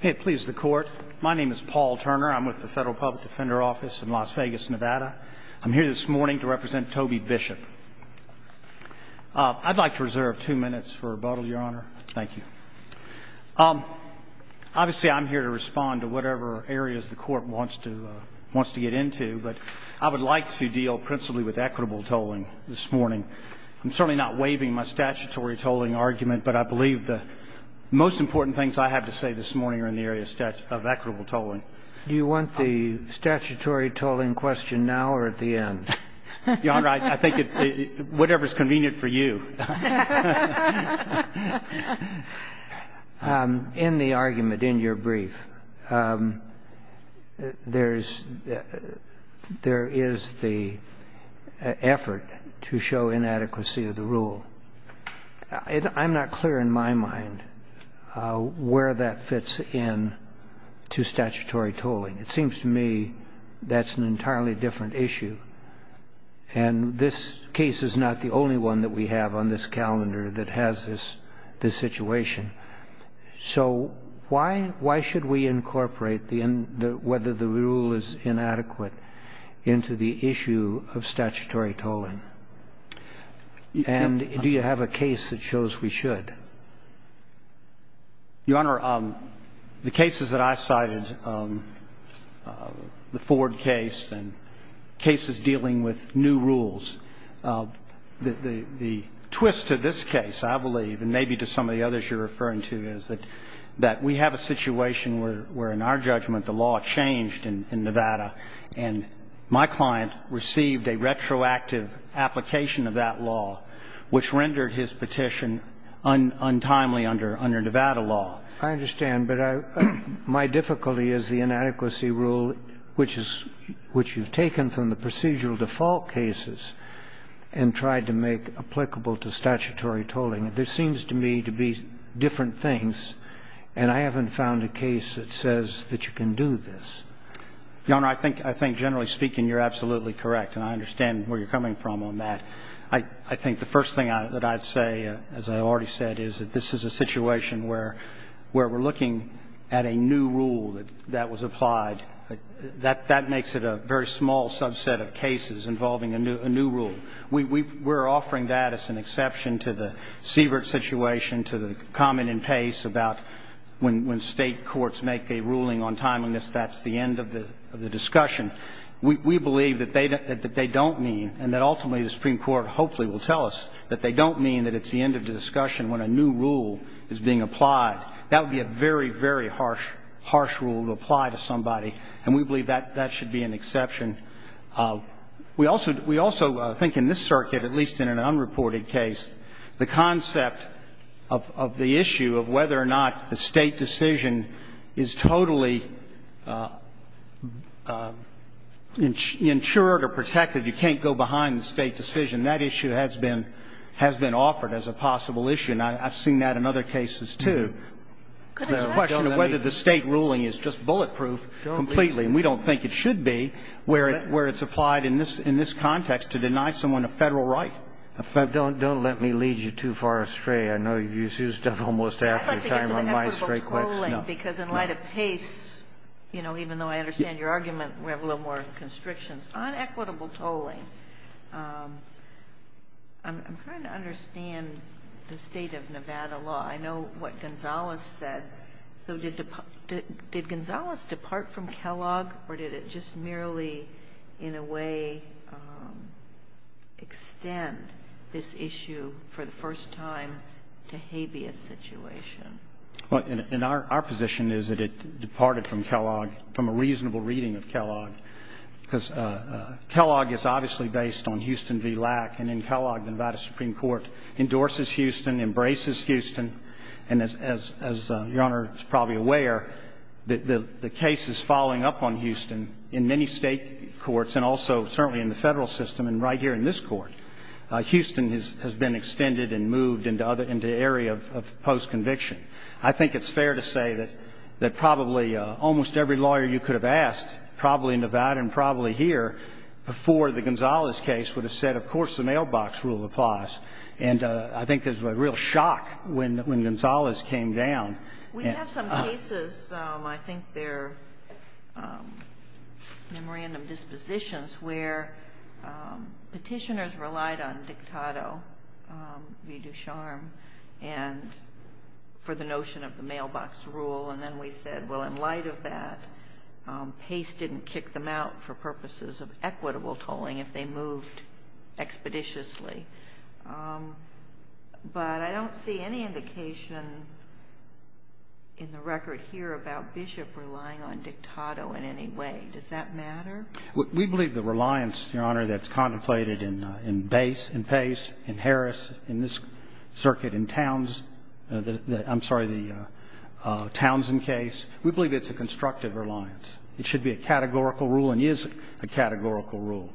Hey, please the court. My name is Paul Turner. I'm with the Federal Public Defender Office in Las Vegas, Nevada I'm here this morning to represent Toby Bishop I'd like to reserve two minutes for rebuttal your honor. Thank you Obviously, I'm here to respond to whatever areas the court wants to wants to get into but I would like to deal principally with equitable Tolling this morning. I'm certainly not waiving my statutory tolling argument, but I believe the Most important things I have to say this morning are in the area of equitable tolling Do you want the statutory tolling question now or at the end? Your honor, I think it's whatever is convenient for you In the argument in your brief There's there is the Effort to show inadequacy of the rule I'm not clear in my mind Where that fits in to statutory tolling it seems to me. That's an entirely different issue and This case is not the only one that we have on this calendar that has this this situation So why why should we incorporate the end whether the rule is inadequate? into the issue of statutory tolling And do you have a case that shows we should? Your honor the cases that I cited The Ford case and cases dealing with new rules the the twist to this case I believe and maybe to some of the others you're referring to is that that we have a situation where we're in our judgment the law changed in Nevada and My client received a retroactive application of that law which rendered his petition Untimely under under Nevada law, I understand but I My difficulty is the inadequacy rule, which is which you've taken from the procedural default cases and Tried to make applicable to statutory tolling it This seems to me to be different things and I haven't found a case that says that you can do this Your honor. I think I think generally speaking. You're absolutely correct and I understand where you're coming from on that I I think the first thing that I'd say as I already said is that this is a situation where Where we're looking at a new rule that that was applied That that makes it a very small subset of cases involving a new a new rule We were offering that as an exception to the Siebert situation to the common in pace about When when state courts make a ruling on timeliness, that's the end of the of the discussion We believe that they don't mean and that ultimately the Supreme Court Hopefully will tell us that they don't mean that it's the end of the discussion when a new rule is being applied That would be a very very harsh harsh rule to apply to somebody and we believe that that should be an exception We also we also think in this circuit at least in an unreported case the concept of The issue of whether or not the state decision is totally Insured or protected you can't go behind the state decision that issue has been has been offered as a possible issue And I've seen that in other cases, too Whether the state ruling is just bulletproof Completely and we don't think it should be where it where it's applied in this in this context to deny someone a federal right I thought don't don't let me lead you too far astray. I know you've used up almost after time on my straight quick No, because in light of pace You know, even though I understand your argument we have a little more constrictions on equitable tolling I'm trying to understand the state of Nevada law. I know what Gonzales said So did the did Gonzales depart from Kellogg or did it just merely in a way? Extend this issue for the first time to habeas situation Well in our position is that it departed from Kellogg from a reasonable reading of Kellogg because Kellogg is obviously based on Houston v. Lack and in Kellogg the Nevada Supreme Court endorses Houston embraces Houston and as as your honor It's probably aware that the the case is following up on Houston in many state Courts and also certainly in the federal system and right here in this court Houston has been extended and moved into other into the area of post conviction I think it's fair to say that that probably almost every lawyer you could have asked probably in Nevada and probably here Before the Gonzales case would have said of course the mailbox rule applies And I think there's a real shock when when Gonzales came down Dispositions where petitioners relied on dictator we do charm and For the notion of the mailbox rule, and then we said well in light of that Pace didn't kick them out for purposes of equitable tolling if they moved expeditiously But I don't see any indication In the record here about Bishop relying on dictator in any way does that matter We believe the reliance your honor that's contemplated in in base and pace and Harris in this Circuit in towns I'm sorry the Townsend case we believe it's a constructive reliance. It should be a categorical rule and is a categorical rule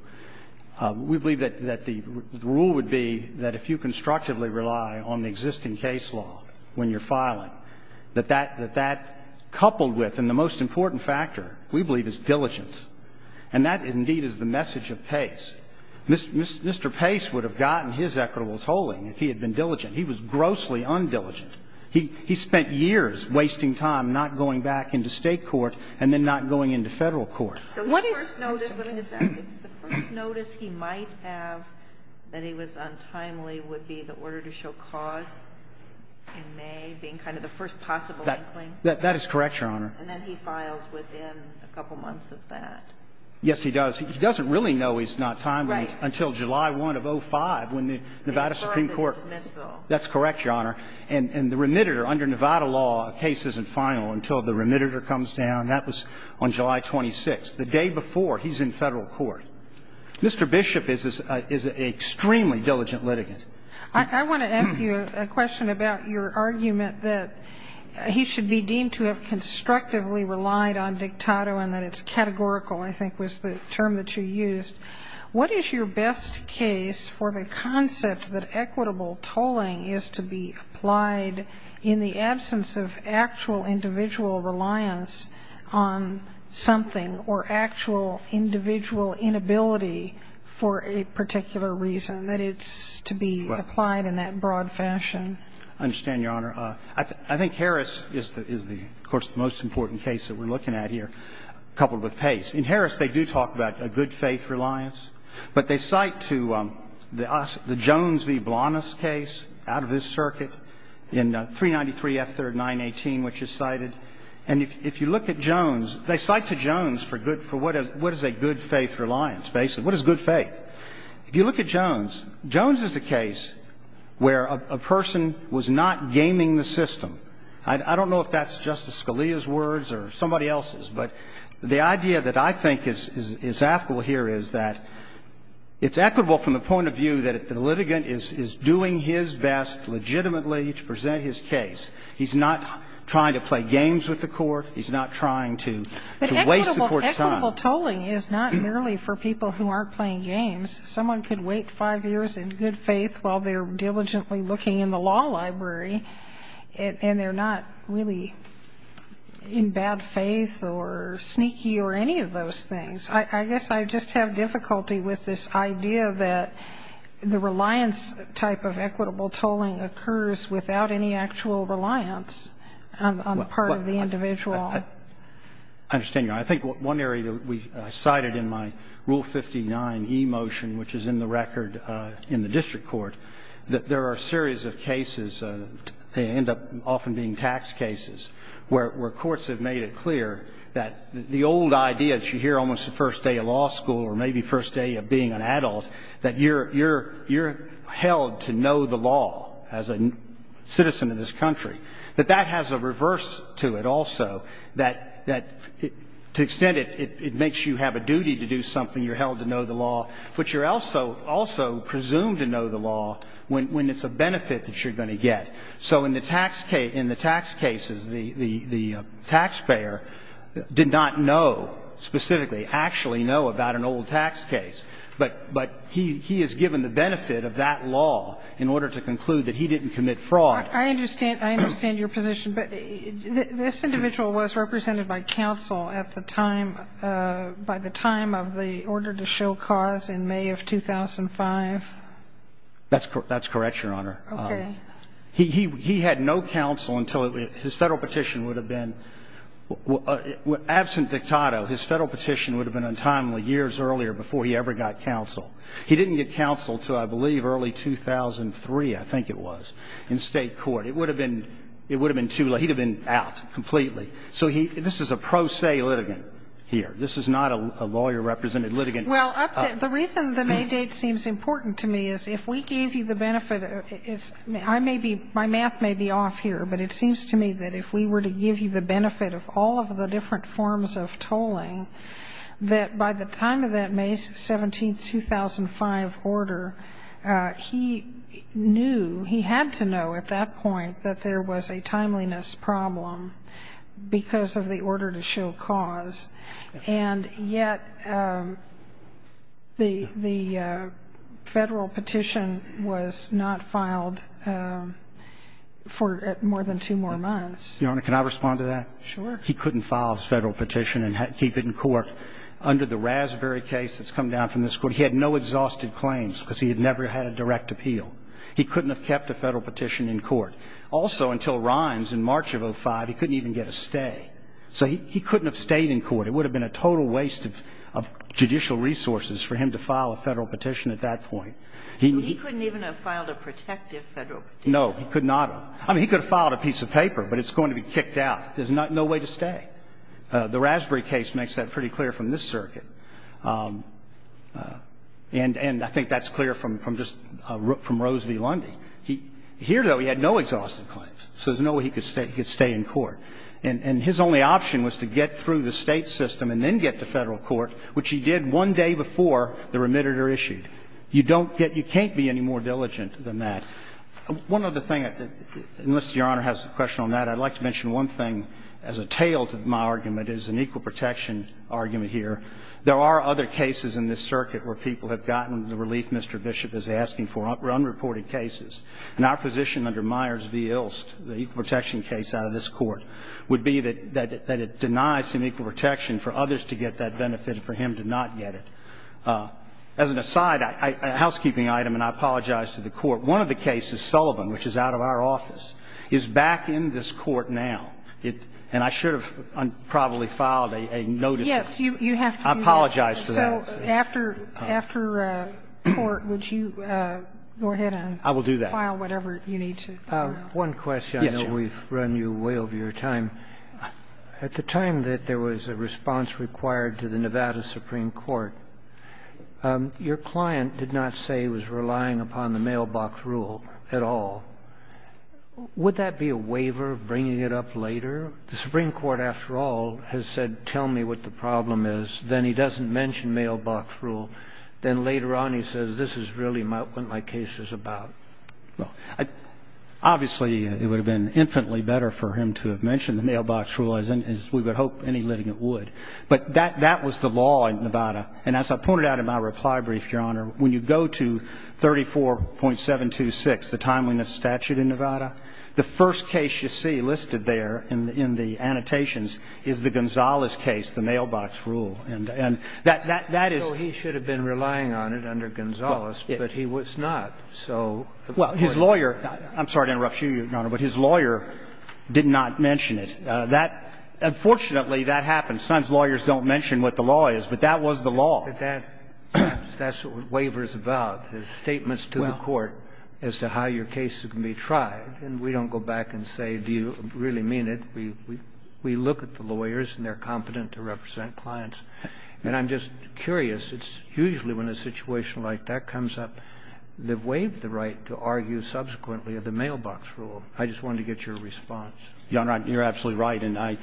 We believe that that the rule would be that if you constructively rely on the existing case law when you're filing that that that that Coupled with and the most important factor we believe is diligence and that indeed is the message of pace This mr. Pace would have gotten his equitable tolling if he had been diligent. He was grossly undiligent He he spent years wasting time not going back into state court and then not going into federal court Notice he might have that he was untimely would be the order to show cause Being kind of the first possible that that is correct your honor A couple months of that. Yes, he does He doesn't really know he's not time right until July 1 of 05 when the Nevada Supreme Court That's correct your honor and and the remitted or under Nevada law cases and final until the remitted er comes down That was on July 26 the day before he's in federal court Mr. Bishop is is a extremely diligent litigant. I want to ask you a question about your argument that He should be deemed to have constructively relied on dictato and that it's categorical I think was the term that you used What is your best case for the concept that equitable tolling is to be applied? in the absence of actual individual reliance on something or actual Individual inability for a particular reason that it's to be applied in that broad fashion Understand your honor. I think Harris is that is the of course the most important case that we're looking at here Coupled with pace in Harris. They do talk about a good-faith reliance, but they cite to The us the Jones v. Blahnaz case out of this circuit in 393 f3rd 918 which is cited and if you look at Jones They cite to Jones for good for what is what is a good-faith reliance basically? What is good faith if you look at Jones Jones is the case? Where a person was not gaming the system I don't know if that's justice Scalia's words or somebody else's but the idea that I think is is Apple here is that It's equitable from the point of view that the litigant is doing his best Legitimately to present his case. He's not trying to play games with the court. He's not trying to Waste the court's time Equitable tolling is not nearly for people who aren't playing games Someone could wait five years in good faith while they're diligently looking in the law library And they're not really in bad faith or Sneaky or any of those things. I guess I just have difficulty with this idea that the reliance type of equitable tolling occurs without any actual reliance on part of the individual I Think one area that we cited in my rule 59 e motion Which is in the record in the district court that there are a series of cases They end up often being tax cases Where courts have made it clear that the old idea that you hear almost the first day of law school or maybe first day of being an adult that you're you're you're held to know the law as a citizen of this country that that has a reverse to it also that that To extend it it makes you have a duty to do something you're held to know the law But you're also also presumed to know the law when it's a benefit that you're going to get So in the tax case in the tax cases the the the taxpayer Did not know Specifically actually know about an old tax case But but he he is given the benefit of that law in order to conclude that he didn't commit fraud I understand I understand your position, but this individual was represented by counsel at the time by the time of the order to show cause in May of 2005 That's correct. That's correct. Your honor. Okay. He had no counsel until his federal petition would have been Absent dictato his federal petition would have been untimely years earlier before he ever got counsel He didn't get counsel till I believe early 2003 I think it was in state court. It would have been it would have been too late He'd have been out completely. So he this is a pro se litigant here. This is not a lawyer represented litigant Well, the reason the May date seems important to me is if we gave you the benefit It's I may be my math may be off here But it seems to me that if we were to give you the benefit of all of the different forms of tolling That by the time of that May 17 2005 order He knew he had to know at that point that there was a timeliness problem because of the order to show cause and yet The the federal petition was not filed For more than two more months, you know, can I respond to that? Sure, he couldn't file his federal petition and had to keep it in court under the raspberry case that's come down from this court He had no exhausted claims because he had never had a direct appeal He couldn't have kept a federal petition in court also until rhymes in March of 05. He couldn't even get a stay So he couldn't have stayed in court. It would have been a total waste of Judicial resources for him to file a federal petition at that point. He couldn't even have filed a protective federal No, he could not I mean he could have filed a piece of paper, but it's going to be kicked out There's not no way to stay the raspberry case makes that pretty clear from this circuit And and I think that's clear from from just from Rose v. Lundy. He here though He had no exhaustive claims So there's no way he could stay he could stay in court And and his only option was to get through the state system and then get to federal court Which he did one day before the remitted or issued you don't get you can't be any more diligent than that one other thing Unless your honor has a question on that I'd like to mention one thing as a tail to my argument is an equal protection argument here There are other cases in this circuit where people have gotten the relief Mr. Bishop is asking for run reported cases and our position under Myers v Ilst the protection case out of this court would be that that it denies him equal protection for others to get that benefit for him To not get it as an aside Housekeeping item and I apologize to the court one of the cases Sullivan which is out of our office is back in this court now It and I should have Probably filed a notice. Yes, you have to apologize for that after after Court, would you go ahead and I will do that file whatever you need to one question We've run you way over your time At the time that there was a response required to the Nevada Supreme Court Your client did not say was relying upon the mailbox rule at all Would that be a waiver of bringing it up later the Supreme Court after all has said tell me what the problem is Then he doesn't mention mailbox rule then later on. He says this is really my what my case is about well, I Obviously it would have been infinitely better for him to have mentioned the mailbox rule as in as we would hope any living it would But that that was the law in Nevada. And as I pointed out in my reply brief your honor when you go to 34.7 to 6 the timeliness statute in Nevada the first case you see listed there in the in the Annotations is the Gonzales case the mailbox rule and and that that that is he should have been relying on it under Gonzales But he was not so well his lawyer. I'm sorry to interrupt you your honor, but his lawyer Did not mention it that Unfortunately that happens sometimes lawyers don't mention what the law is, but that was the law that That's what waivers about his statements to the court as to how your cases can be tried And we don't go back and say do you really mean it? We we look at the lawyers and they're competent to represent clients, and I'm just curious It's usually when a situation like that comes up. They've waived the right to argue subsequently of the mailbox rule I just wanted to get your response You're absolutely right And I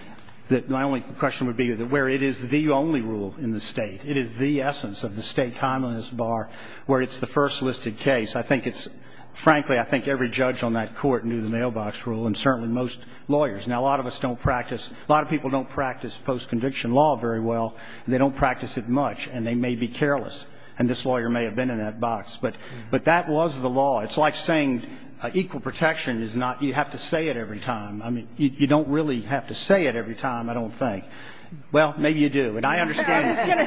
that my only question would be that where it is the only rule in the state it is the essence of the state Timeliness bar where it's the first listed case. I think it's frankly I think every judge on that court knew the mailbox rule and certainly most Lawyers now a lot of us don't practice a lot of people don't practice post-conviction law very well They don't practice it much and they may be careless and this lawyer may have been in that box But but that was the law it's like saying Equal protection is not you have to say it every time. I mean, you don't really have to say it every time I don't think well, maybe you do and I understand Thank you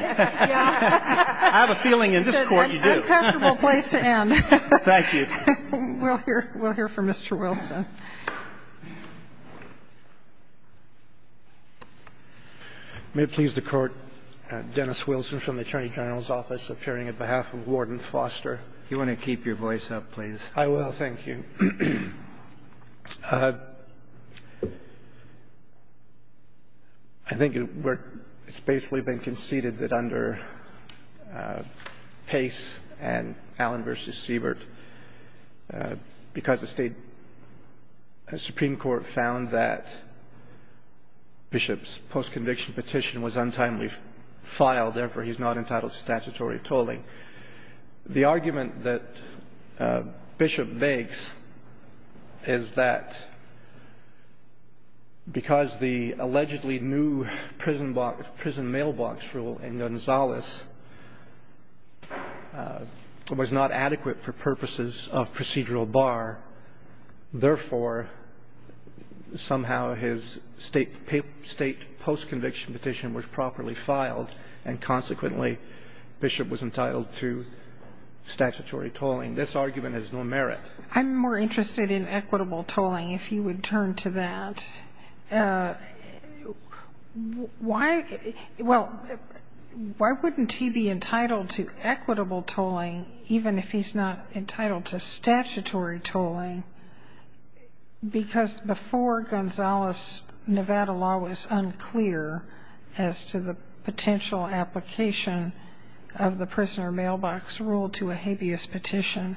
May please the court Dennis Wilson from the Attorney General's office appearing at behalf of Warden Foster. You want to keep your voice up, please? I will thank you I Think it's basically been conceded that under Pace and Allen versus Siebert Because the state a Supreme Court found that Bishops post-conviction petition was untimely filed therefore. He's not entitled to statutory tolling the argument that Bishop makes is that Because the allegedly new prison box prison mailbox rule in Gonzalez It was not adequate for purposes of procedural bar therefore Somehow his state paper state post-conviction petition was properly filed and consequently Bishop was entitled to Statutory tolling this argument has no merit. I'm more interested in equitable tolling if you would turn to that Why well Why wouldn't he be entitled to equitable tolling even if he's not entitled to statutory tolling? because before Gonzalez Nevada law was unclear as to the potential application of Prisoner mailbox rule to a habeas petition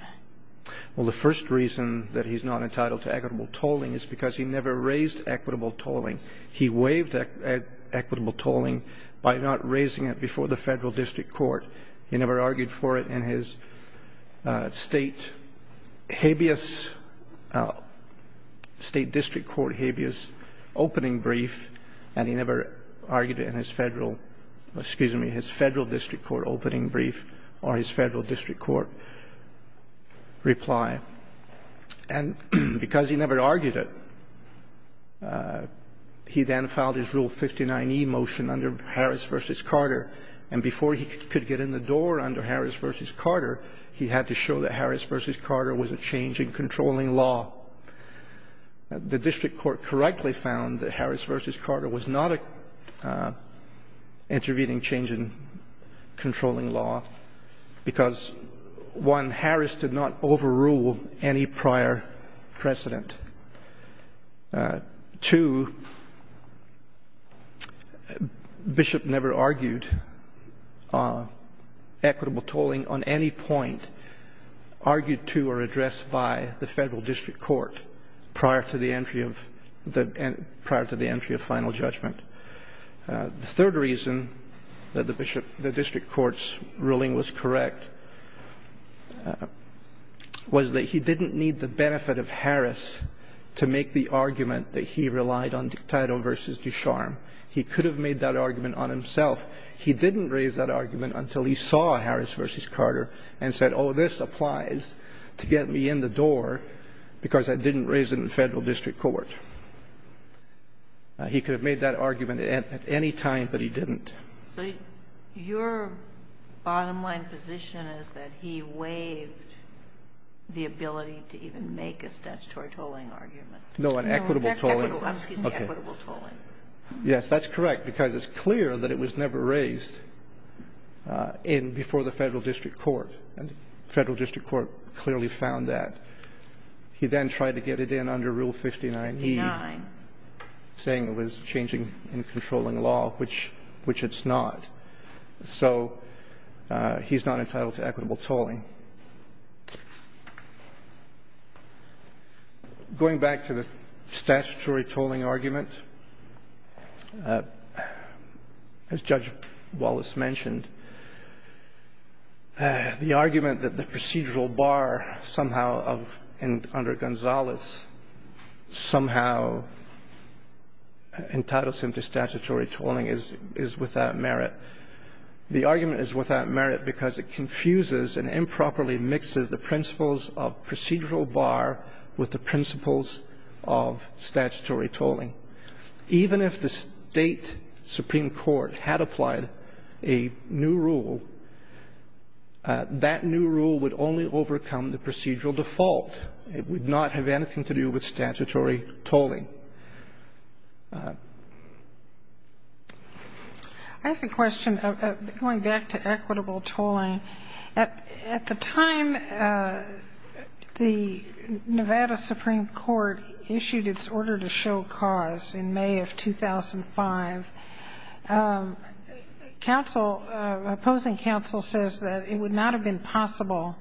Well, the first reason that he's not entitled to equitable tolling is because he never raised equitable tolling he waived Equitable tolling by not raising it before the federal district court. He never argued for it in his state habeas State district court habeas Opening brief and he never argued it in his federal Excuse me his federal district court opening brief or his federal district court reply and Because he never argued it He then filed his rule 59e motion under Harris versus Carter and before he could get in the door under Harris versus Carter He had to show that Harris versus Carter was a change in controlling law The district court correctly found that Harris versus Carter was not a Intervening change in controlling law because One Harris did not overrule any prior precedent To Bishop never argued Equitable tolling on any point Argued to or addressed by the federal district court prior to the entry of the prior to the entry of final judgment The third reason that the bishop the district courts ruling was correct Was that he didn't need the benefit of Harris to make the argument that he relied on dictator versus Ducharme He could have made that argument on himself He didn't raise that argument until he saw Harris versus Carter and said, oh this applies to get me in the door Because I didn't raise it in the federal district court He could have made that argument at any time, but he didn't Your Bottom-line position is that he waived The ability to even make a statutory tolling argument. No an equitable tolling Yes, that's correct because it's clear that it was never raised In before the federal district court and federal district court clearly found that He then tried to get it in under rule 59 Saying it was changing in controlling law, which which it's not so He's not entitled to equitable tolling Going back to the statutory tolling argument As judge Wallace mentioned The argument that the procedural bar somehow of and under Gonzalez Somehow Entitles him to statutory tolling is is without merit the argument is without merit because it confuses and improperly mixes the principles of procedural bar with the principles of statutory tolling even if the state Supreme Court had applied a new rule That new rule would only overcome the procedural default it would not have anything to do with statutory tolling I have a question of going back to equitable tolling at at the time The Nevada Supreme Court issued its order to show cause in May of 2005 Counsel Opposing counsel says that it would not have been possible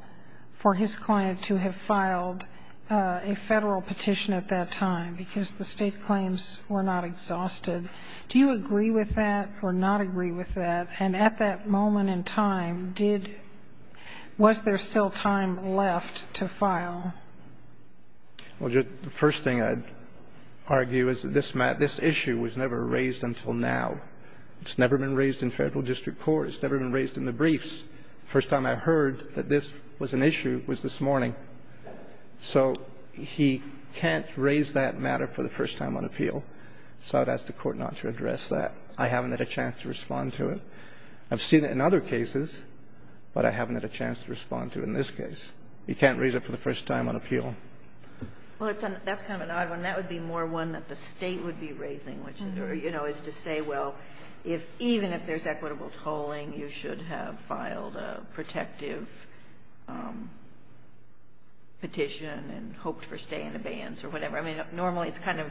for his client to have filed a federal petition at that time because the state claims were not exhausted Do you agree with that or not agree with that and at that moment in time did? Was there still time left to file? Well, just the first thing I'd Argue is that this matter this issue was never raised until now It's never been raised in federal district court. It's never been raised in the briefs first time I heard that this was an issue was this morning So he can't raise that matter for the first time on appeal So that's the court not to address that I haven't had a chance to respond to it. I've seen it in other cases But I haven't had a chance to respond to in this case. You can't raise it for the first time on appeal Well, it's an that's kind of an odd one that would be more one that the state would be raising which is or you know Is to say well if even if there's equitable tolling you should have filed a protective Petition and hoped for stay in abeyance or whatever. I mean normally it's kind of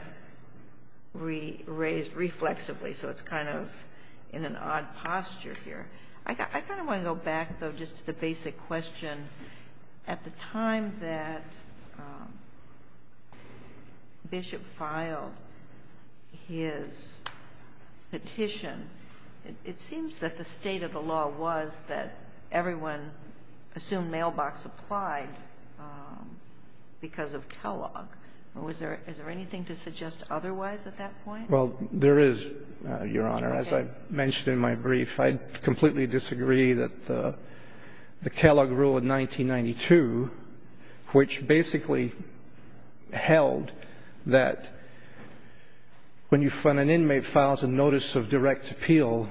We raised reflexively. So it's kind of in an odd posture here I kind of want to go back though. Just the basic question at the time that Bishop filed his Petition it seems that the state of the law was that everyone assumed mailbox applied Because of Kellogg or was there is there anything to suggest otherwise at that point? well, there is your honor as I mentioned in my brief, I'd completely disagree that the the Kellogg rule of 1992 Which basically held that When you fund an inmate files a notice of direct appeal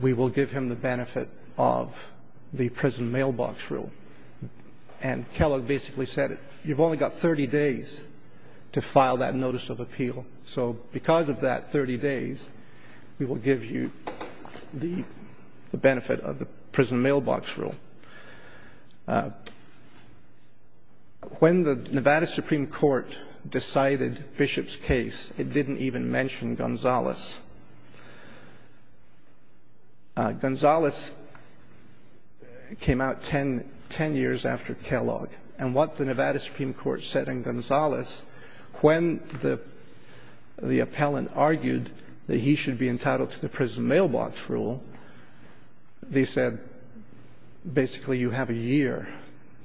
we will give him the benefit of the prison mailbox rule and Kellogg basically said it you've only got 30 days To file that notice of appeal. So because of that 30 days we will give you the benefit of the prison mailbox rule When The Nevada Supreme Court decided Bishop's case it didn't even mention Gonzales Gonzales Came out 10 10 years after Kellogg and what the Nevada Supreme Court said in Gonzales when the The appellant argued that he should be entitled to the prison mailbox rule they said Basically you have a year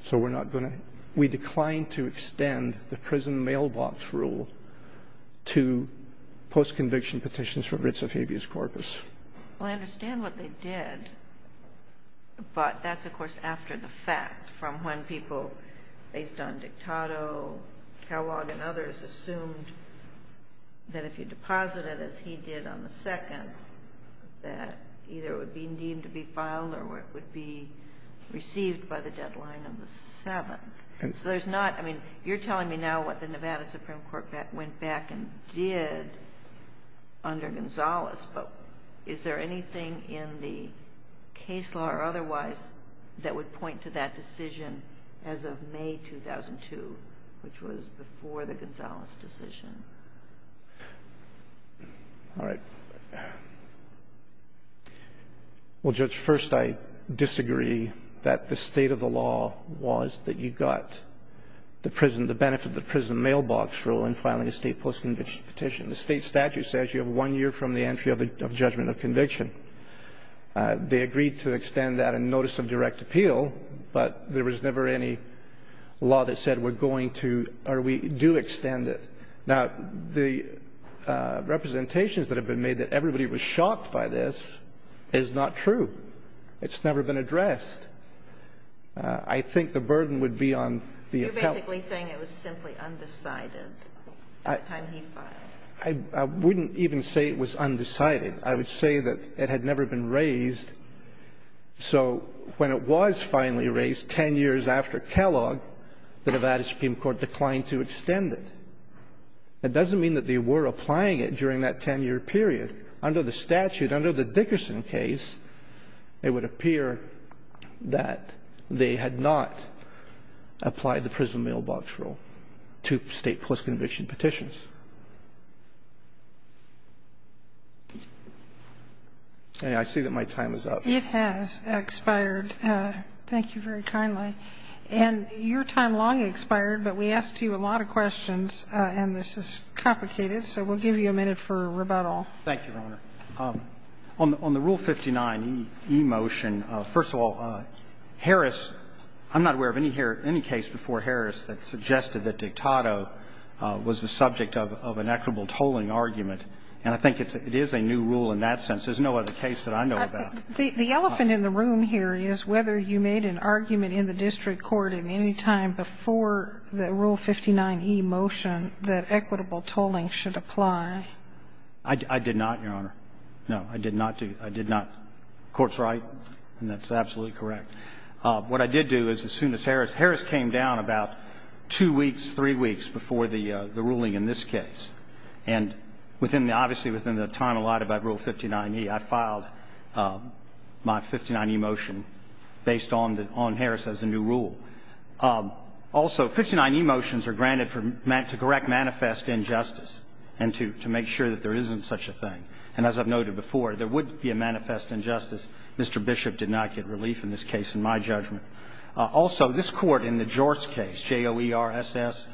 so we're not going to we declined to extend the prison mailbox rule to post-conviction petitions for writs of habeas corpus Well, I understand what they did But that's of course after the fact from when people based on Dictado Kellogg and others assumed That if you deposit it as he did on the second That either would be deemed to be filed or what would be Received by the deadline of the seventh and so there's not I mean you're telling me now what the Nevada Supreme Court that went back and did Under Gonzales, but is there anything in the case law or otherwise? That would point to that decision as of May 2002, which was before the Gonzales decision All right Well judge first I disagree that the state of the law was that you got The prison the benefit the prison mailbox rule in filing a state post-conviction petition the state statute says you have one year from the entry of a judgment of conviction They agreed to extend that and notice of direct appeal, but there was never any Law that said we're going to or we do extend it now the Representations that have been made that everybody was shocked by this is not true. It's never been addressed. I Think the burden would be on the I wouldn't even say it was undecided. I would say that it had never been raised So when it was finally raised ten years after Kellogg the Nevada Supreme Court declined to extend it It doesn't mean that they were applying it during that ten-year period under the statute under the Dickerson case It would appear that they had not Applied the prison mailbox rule to state post-conviction petitions I See that my time is up it has expired Thank you very kindly and your time long expired, but we asked you a lot of questions And this is complicated. So we'll give you a minute for rebuttal. Thank you, Your Honor on the rule 59 emotion first of all Harris I'm not aware of any hair any case before Harris that suggested that dictator Was the subject of an equitable tolling argument and I think it's it is a new rule in that sense There's no other case that I know about the elephant in the room here Is whether you made an argument in the district court in any time before? The rule 59 e motion that equitable tolling should apply. I Did not your honor. No, I did not do I did not courts, right? And that's absolutely correct What I did do is as soon as Harris Harris came down about two weeks three weeks before the the ruling in this case and Within the obviously within the time allotted by rule 59e. I filed My 59 emotion based on the on Harris as a new rule also 59 emotions are granted for meant to correct manifest injustice and to make sure that there isn't such a thing and as I've Judgment also this court in the George case j-o-e-r-s-s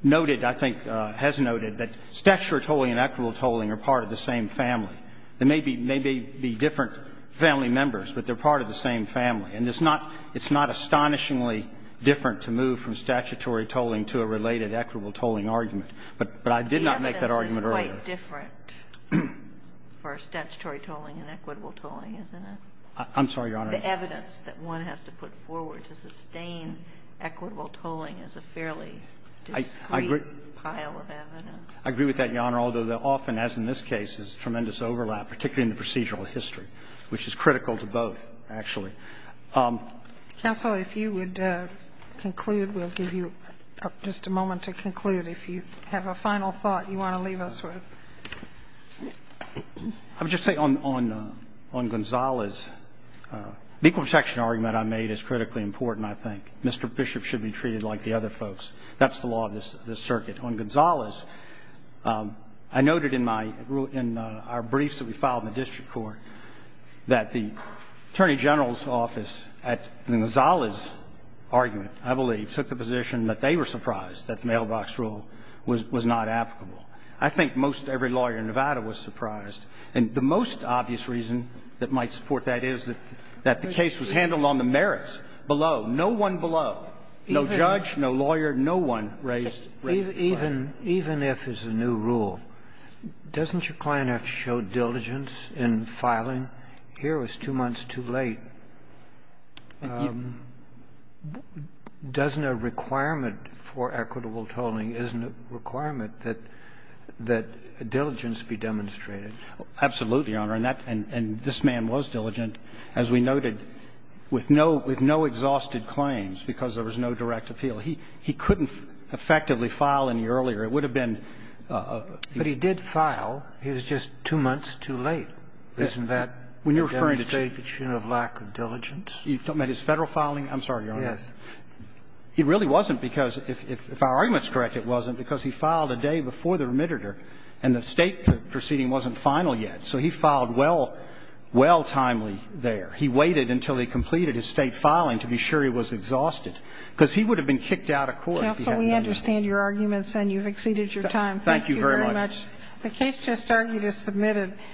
Noted I think has noted that stature tolling and equitable tolling are part of the same family There may be may be be different family members, but they're part of the same family and it's not it's not astonishingly Different to move from statutory tolling to a related equitable tolling argument, but but I did not make that argument Different For statutory tolling and equitable tolling isn't it? I'm sorry your honor the evidence that one has to put forward to sustain equitable tolling is a fairly I Agree with that your honor, although they're often as in this case is tremendous overlap particularly in the procedural history, which is critical to both actually counsel if you would Conclude we'll give you just a moment to conclude if you have a final thought you want to leave us with I'm just saying on on on Gonzales The equal protection argument I made is critically important. I think mr. Bishop should be treated like the other folks That's the law of this the circuit on Gonzales I noted in my rule in our briefs that we filed in the district court that the Attorney General's office at the Gonzales Argument, I believe took the position that they were surprised that the mailbox rule was was not applicable I think most every lawyer in Nevada was surprised and the most obvious reason that might support that is that That the case was handled on the merits below no one below no judge. No lawyer. No one raised Even even if is a new rule Doesn't your client have showed diligence in filing here was two months too late Doesn't a requirement for equitable tolling isn't a requirement that that Diligence be demonstrated absolutely on her and that and and this man was diligent as we noted With no with no exhausted claims because there was no direct appeal. He he couldn't effectively file in the earlier. It would have been But he did file. He was just two months too late That when you're referring to take a tune of lack of diligence, you don't make his federal filing. I'm sorry. Yes He really wasn't because if our arguments correct It wasn't because he filed a day before the remitted er and the state proceeding wasn't final yet. So he filed well Well timely there He waited until he completed his state filing to be sure he was exhausted because he would have been kicked out of court So we understand your arguments and you've exceeded your time. Thank you very much The case just started is submitted